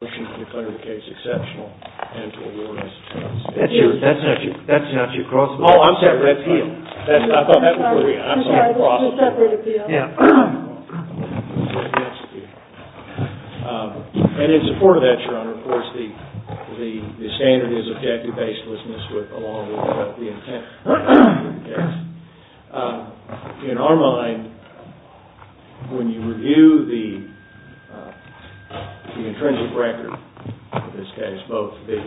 In support of that, your honor, of course, the standard is objective baselessness along with the intent. In our mind, when you review the intrinsic record of this case, both the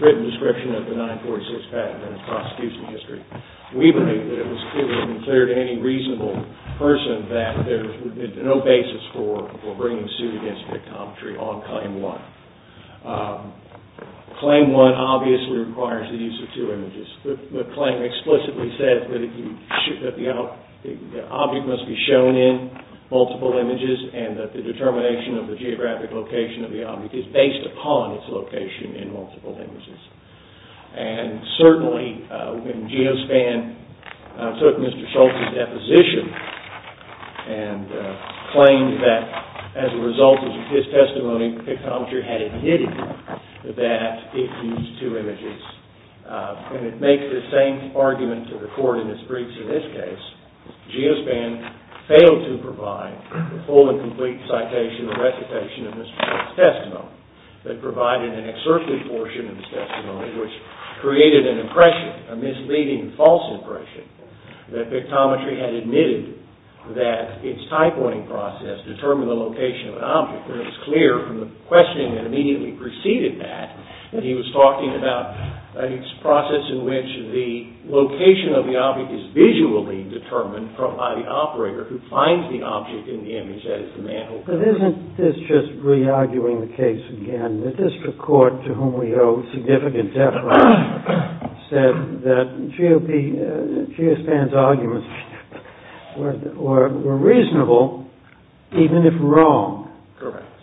written description of the 946 patent and the prosecution history, we believe that it would have been clear to any reasonable person that there would be no basis for bringing suit against PICTOMETRY on claim one. Claim one obviously requires the use of two images. The claim explicitly says that the object must be shown in multiple images and that the determination of the geographic location of the object is based upon its location in multiple images. Certainly, when GEOSPAN took Mr. Schultz's deposition and claimed that as a result of his testimony, PICTOMETRY had admitted that it used two images, and it makes the same argument to the court in its briefs in this case. GEOSPAN failed to provide the full and complete citation and recitation of Mr. Schultz's testimony. They provided an excerpted portion of his testimony, which created an impression, a misleading false impression, that PICTOMETRY had admitted that its typoing process determined the location of an object. And it was clear from the questioning that immediately preceded that that he was talking about a process in which the location of the object is visually determined by the operator who finds the object in the image, that is, the man who took it.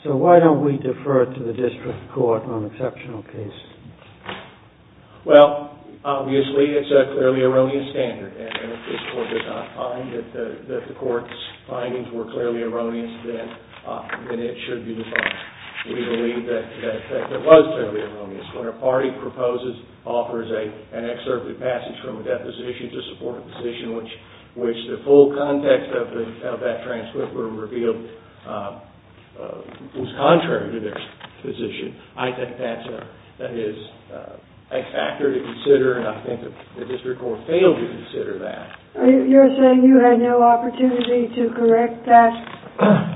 So why don't we defer to the district court on exceptional cases? Well, obviously, it's a clearly erroneous standard, and if this court does not find that the court's findings were clearly erroneous, then it should be defined. We believe that it was clearly erroneous. When a party proposes, offers an excerpted passage from a deposition to support a position which the full context of that transcript were revealed was contrary to their position, I think that is a factor to consider, and I think the district court failed to consider that. You're saying you had no opportunity to correct that,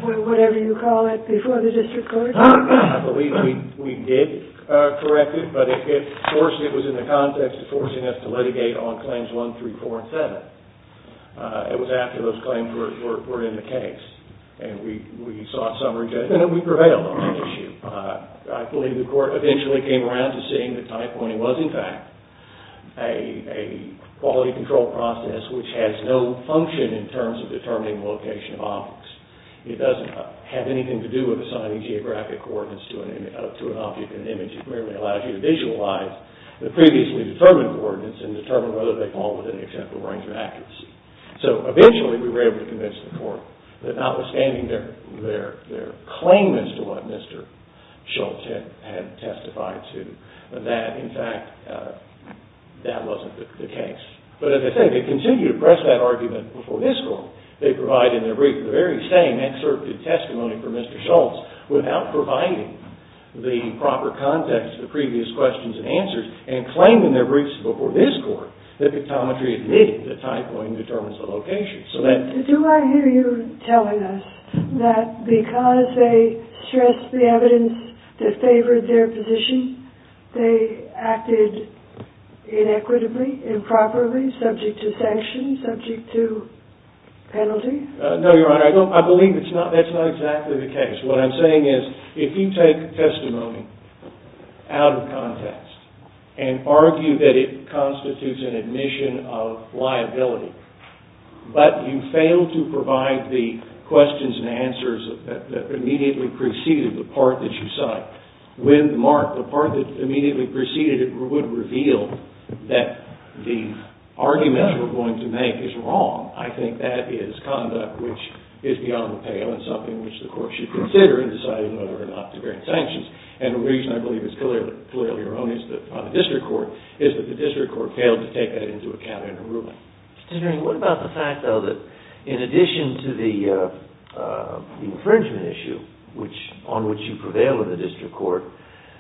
whatever you call it, before the district court? I believe we did correct it, but it was in the context of forcing us to litigate on Claims 1, 3, 4, and 7. It was after those claims were in the case, and we sought summary judgment, and we prevailed on that issue. I believe the court eventually came around to seeing that tie-pointing was, in fact, a quality control process which has no function in terms of determining location of objects. It doesn't have anything to do with assigning geographic coordinates to an object in an image. It merely allows you to visualize the previously determined coordinates and determine whether they fall within the acceptable range of accuracy. So, eventually, we were able to convince the court that notwithstanding their claim as to what Mr. Schultz had testified to, that, in fact, that wasn't the case. But as I say, they continued to press that argument before this court. They provided in their brief the very same excerpted testimony from Mr. Schultz without providing the proper context of the previous questions and answers, and claimed in their briefs before this court that pictometry admitted that tie-pointing determines the location. Do I hear you telling us that because they stressed the evidence that favored their position, they acted inequitably, improperly, subject to sanctions, subject to penalty? No, Your Honor. I believe that's not exactly the case. What I'm saying is, if you take testimony out of context and argue that it constitutes an admission of liability, but you fail to provide the questions and answers that immediately preceded the part that you cite with mark, the part that immediately preceded it would reveal that the argument we're going to make is wrong. I think that is conduct which is beyond the pale and something which the court should consider in deciding whether or not to grant sanctions. And the reason I believe is clearly erroneous on the district court is that the district court failed to take that into account in their ruling. What about the fact, though, that in addition to the infringement issue on which you prevail in the district court,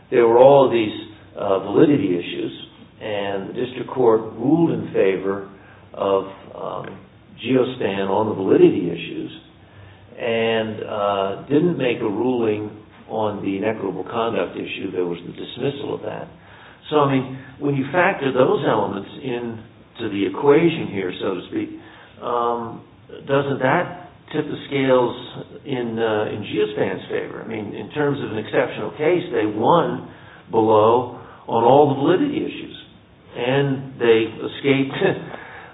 there were all these validity issues, and the district court ruled in favor of Geostan on the validity issues, and didn't make a ruling on the inequitable conduct issue that was the dismissal of that. So, I mean, when you factor those elements into the equation here, so to speak, doesn't that tip the scales in Geostan's favor? I mean, in terms of an exceptional case, they won below on all the validity issues, and they escaped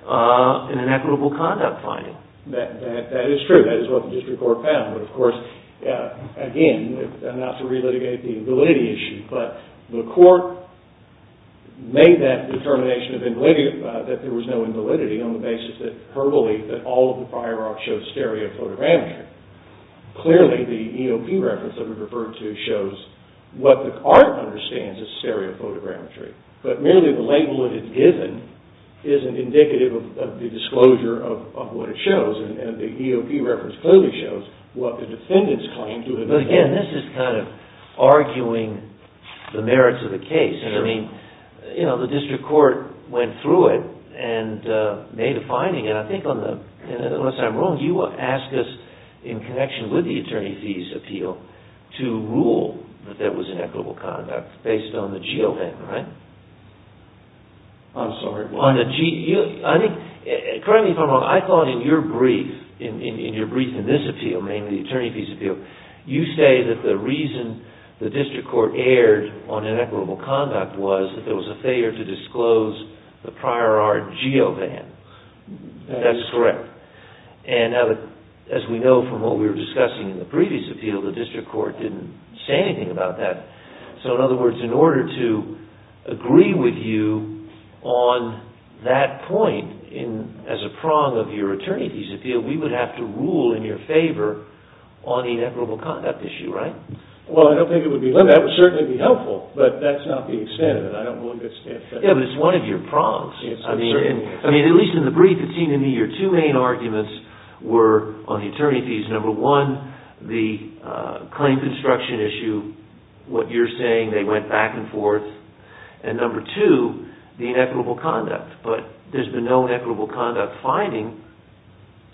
an inequitable conduct finding. That is true. That is what the district court found. But, of course, again, not to relitigate the validity issue, but the court made that determination that there was no invalidity on the basis of her belief that all of the prior art shows stereophotogrammetry. Clearly, the EOP reference that we referred to shows what the court understands is stereophotogrammetry, but merely the label that it's given isn't indicative of the disclosure of what it shows, and the EOP reference clearly shows what the defendants claim to have been. In connection with the attorney fees appeal, to rule that there was inequitable conduct based on the GeoVan, right? I'm sorry, what? Correct me if I'm wrong, I thought in your brief, in your brief in this appeal, mainly the attorney fees appeal, you say that the reason the district court erred on inequitable conduct was that there was a failure to disclose the prior art GeoVan. That's correct. And, as we know from what we were discussing in the previous appeal, the district court didn't say anything about that. So, in other words, in order to agree with you on that point as a prong of your attorney fees appeal, we would have to rule in your favor on the inequitable conduct issue, right? Well, I don't think it would be limited. That would certainly be helpful, but that's not the extent of it. Yeah, but it's one of your prongs. I mean, at least in the brief, it seemed to me your two main arguments were on the attorney fees. Number one, the claim construction issue, what you're saying, they went back and forth. And number two, the inequitable conduct. But there's been no inequitable conduct finding,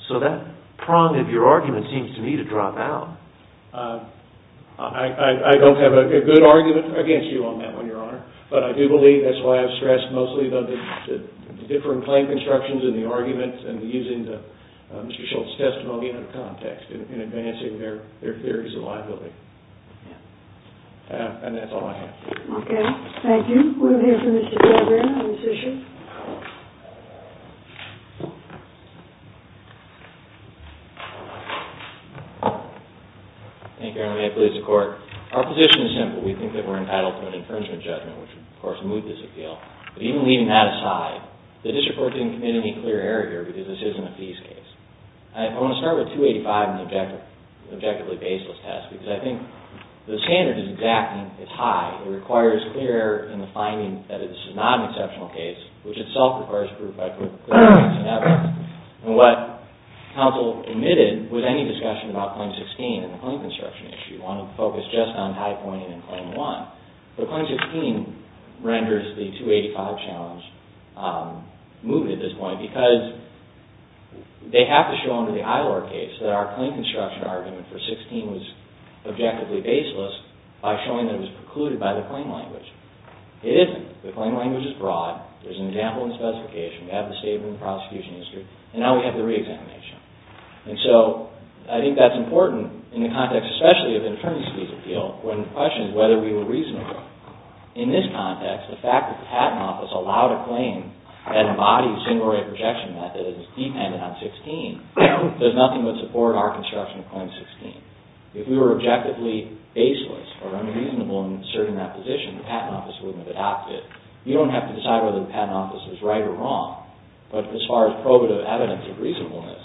so that prong of your argument seems to me to drop out. I don't have a good argument against you on that one, Your Honor, but I do believe that's why I've stressed mostly the different claim constructions and the arguments and using Mr. Schultz's testimony in context in advancing their theories of liability. And that's all I have. Okay, thank you. We'll hear from Mr. Javier on this issue. Thank you, Your Honor. May I please report? Our position is simple. We think that we're entitled to an infringement judgment, which would, of course, move this appeal. But even leaving that aside, the district court didn't commit any clear error here, because this isn't a fees case. I want to start with 285 and the objectively baseless test, because I think the standard is exactly as high. It requires clear error in the finding that this is not an exceptional case, which itself requires proof by clear evidence and evidence. And what counsel omitted was any discussion about Claim 16 and the claim construction issue. We want to focus just on High Point and Claim 1. But Claim 16 renders the 285 challenge moot at this point, because they have to show under the Eilor case that our claim construction argument for 16 was objectively baseless by showing that it was precluded by the claim language. It isn't. The claim language is broad. There's an example in the specification. We have the statement in the prosecution history. And now we have the reexamination. And so, I think that's important in the context, especially of an attorney's fees appeal, when the question is whether we were reasonable. In this context, the fact that the Patent Office allowed a claim that embodies single rate rejection method and is dependent on 16 does nothing but support our construction of Claim 16. If we were objectively baseless or unreasonable in asserting that position, the Patent Office wouldn't have adopted it. You don't have to decide whether the Patent Office is right or wrong, but as far as probative evidence of reasonableness,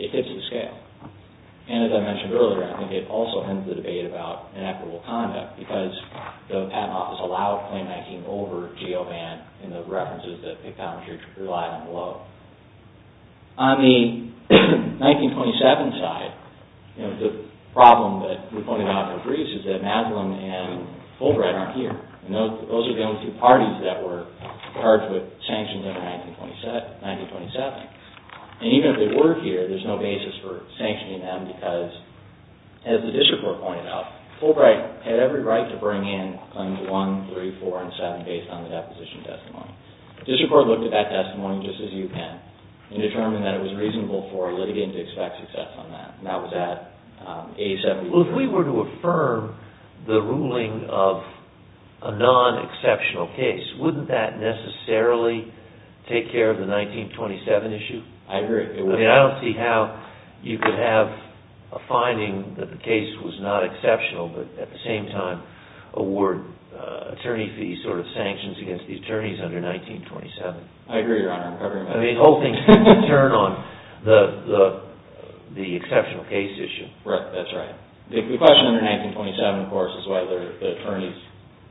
it hits the scale. And as I mentioned earlier, I think it also ends the debate about inequitable conduct, because the Patent Office allowed Claim 19 over GeoBan and the references that they found relied on below. On the 1927 side, the problem that we pointed out in the briefs is that Maslam and Fulbright aren't here. Those are the only two parties that were charged with sanctions in 1927. And even if they were here, there's no basis for sanctioning them because, as the district court pointed out, Fulbright had every right to bring in Claims 1, 3, 4, and 7 based on the deposition testimony. The district court looked at that testimony just as you can and determined that it was reasonable for a litigant to expect success on that, and that was at 87. Well, if we were to affirm the ruling of a non-exceptional case, wouldn't that necessarily take care of the 1927 issue? I agree. I don't see how you could have a finding that the case was not exceptional, but at the same time award attorney fees or sanctions against the attorneys under 1927. I agree, Your Honor. I mean, the whole thing's going to turn on the exceptional case issue. Correct. That's right. The question under 1927, of course, is whether the attorneys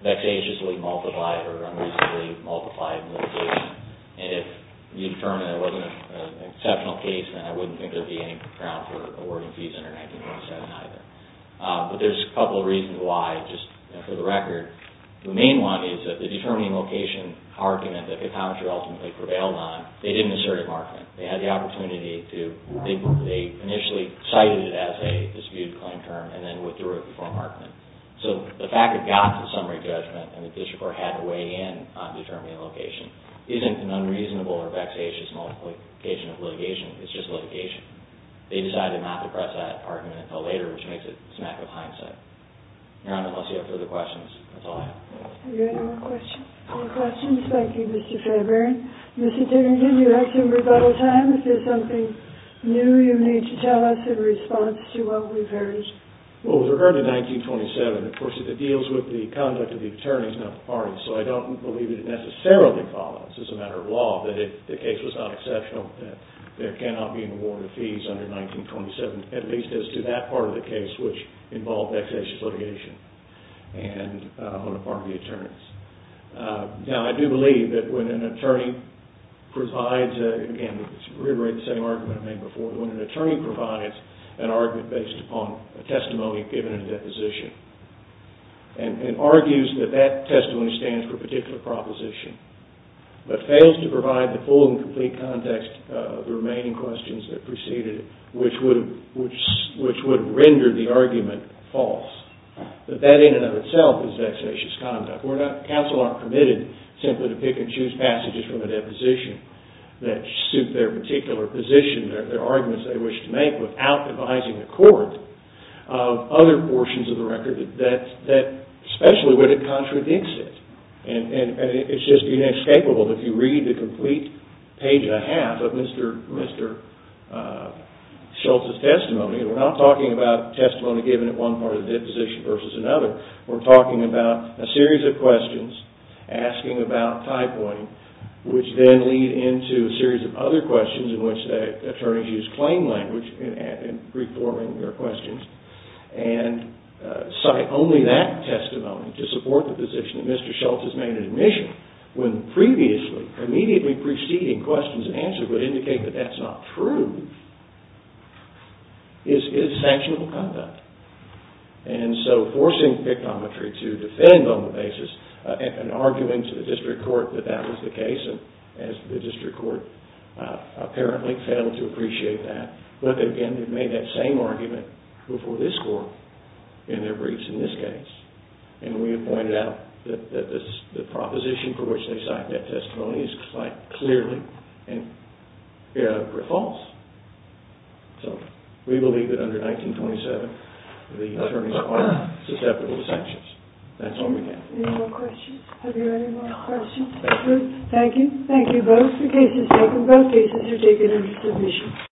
vexatiously multiplied or unreasonably multiplied in litigation. And if you determine there wasn't an exceptional case, then I wouldn't think there would be any ground for awarding fees under 1927 either. But there's a couple of reasons why, just for the record. The main one is that the determining location argument that the commentary ultimately prevailed on, they didn't assert a markment. They had the opportunity to – they initially cited it as a disputed claim term and then withdrew it before a markment. So the fact it got to the summary judgment and the district court had to weigh in on determining the location isn't an unreasonable or vexatious multiplication of litigation. It's just litigation. They decided not to press that argument until later, which makes it a smack of hindsight. Your Honor, unless you have further questions, that's all I have. Are there any more questions? No questions. Thank you, Mr. Faber. Mr. Dickington, you have some rebuttal time. If there's something new you need to tell us in response to what we've heard. Well, with regard to 1927, of course, it deals with the conduct of the attorneys, not the parties. So I don't believe it necessarily follows as a matter of law that if the case was not exceptional that there cannot be an award of fees under 1927, at least as to that part of the case which involved vexatious litigation on the part of the attorneys. Now, I do believe that when an attorney provides, again, reiterate the same argument I made before, when an attorney provides an argument based upon a testimony given in a deposition and argues that that testimony stands for a particular proposition but fails to provide the full and complete context of the remaining questions that preceded it, which would render the argument false, that that in and of itself is vexatious conduct. Counsel aren't permitted simply to pick and choose passages from a deposition that suit their particular position, their arguments they wish to make, without devising a court of other portions of the record, especially when it contradicts it. And it's just inescapable if you read the complete page and a half of Mr. Schultz's testimony, and we're not talking about testimony given at one part of the deposition versus another, we're talking about a series of questions asking about tie-pointing, which then lead into a series of other questions in which the attorneys use claim language in reforming their questions, and cite only that testimony to support the position that Mr. Schultz has made in admission, when previously, immediately preceding questions and answers would indicate that that's not true, is sanctionable conduct. And so forcing pictometry to defend on the basis of an argument to the district court that that was the case, as the district court apparently failed to appreciate that, but again, they've made that same argument before this court in their briefs in this case. And we have pointed out that the proposition for which they cite that testimony is quite clearly false. So we believe that under 1927, the attorneys are susceptible to sanctions. That's all we have. Any more questions? Have you any more questions? Thank you. Thank you both. The case is taken. Both cases are taken into submission.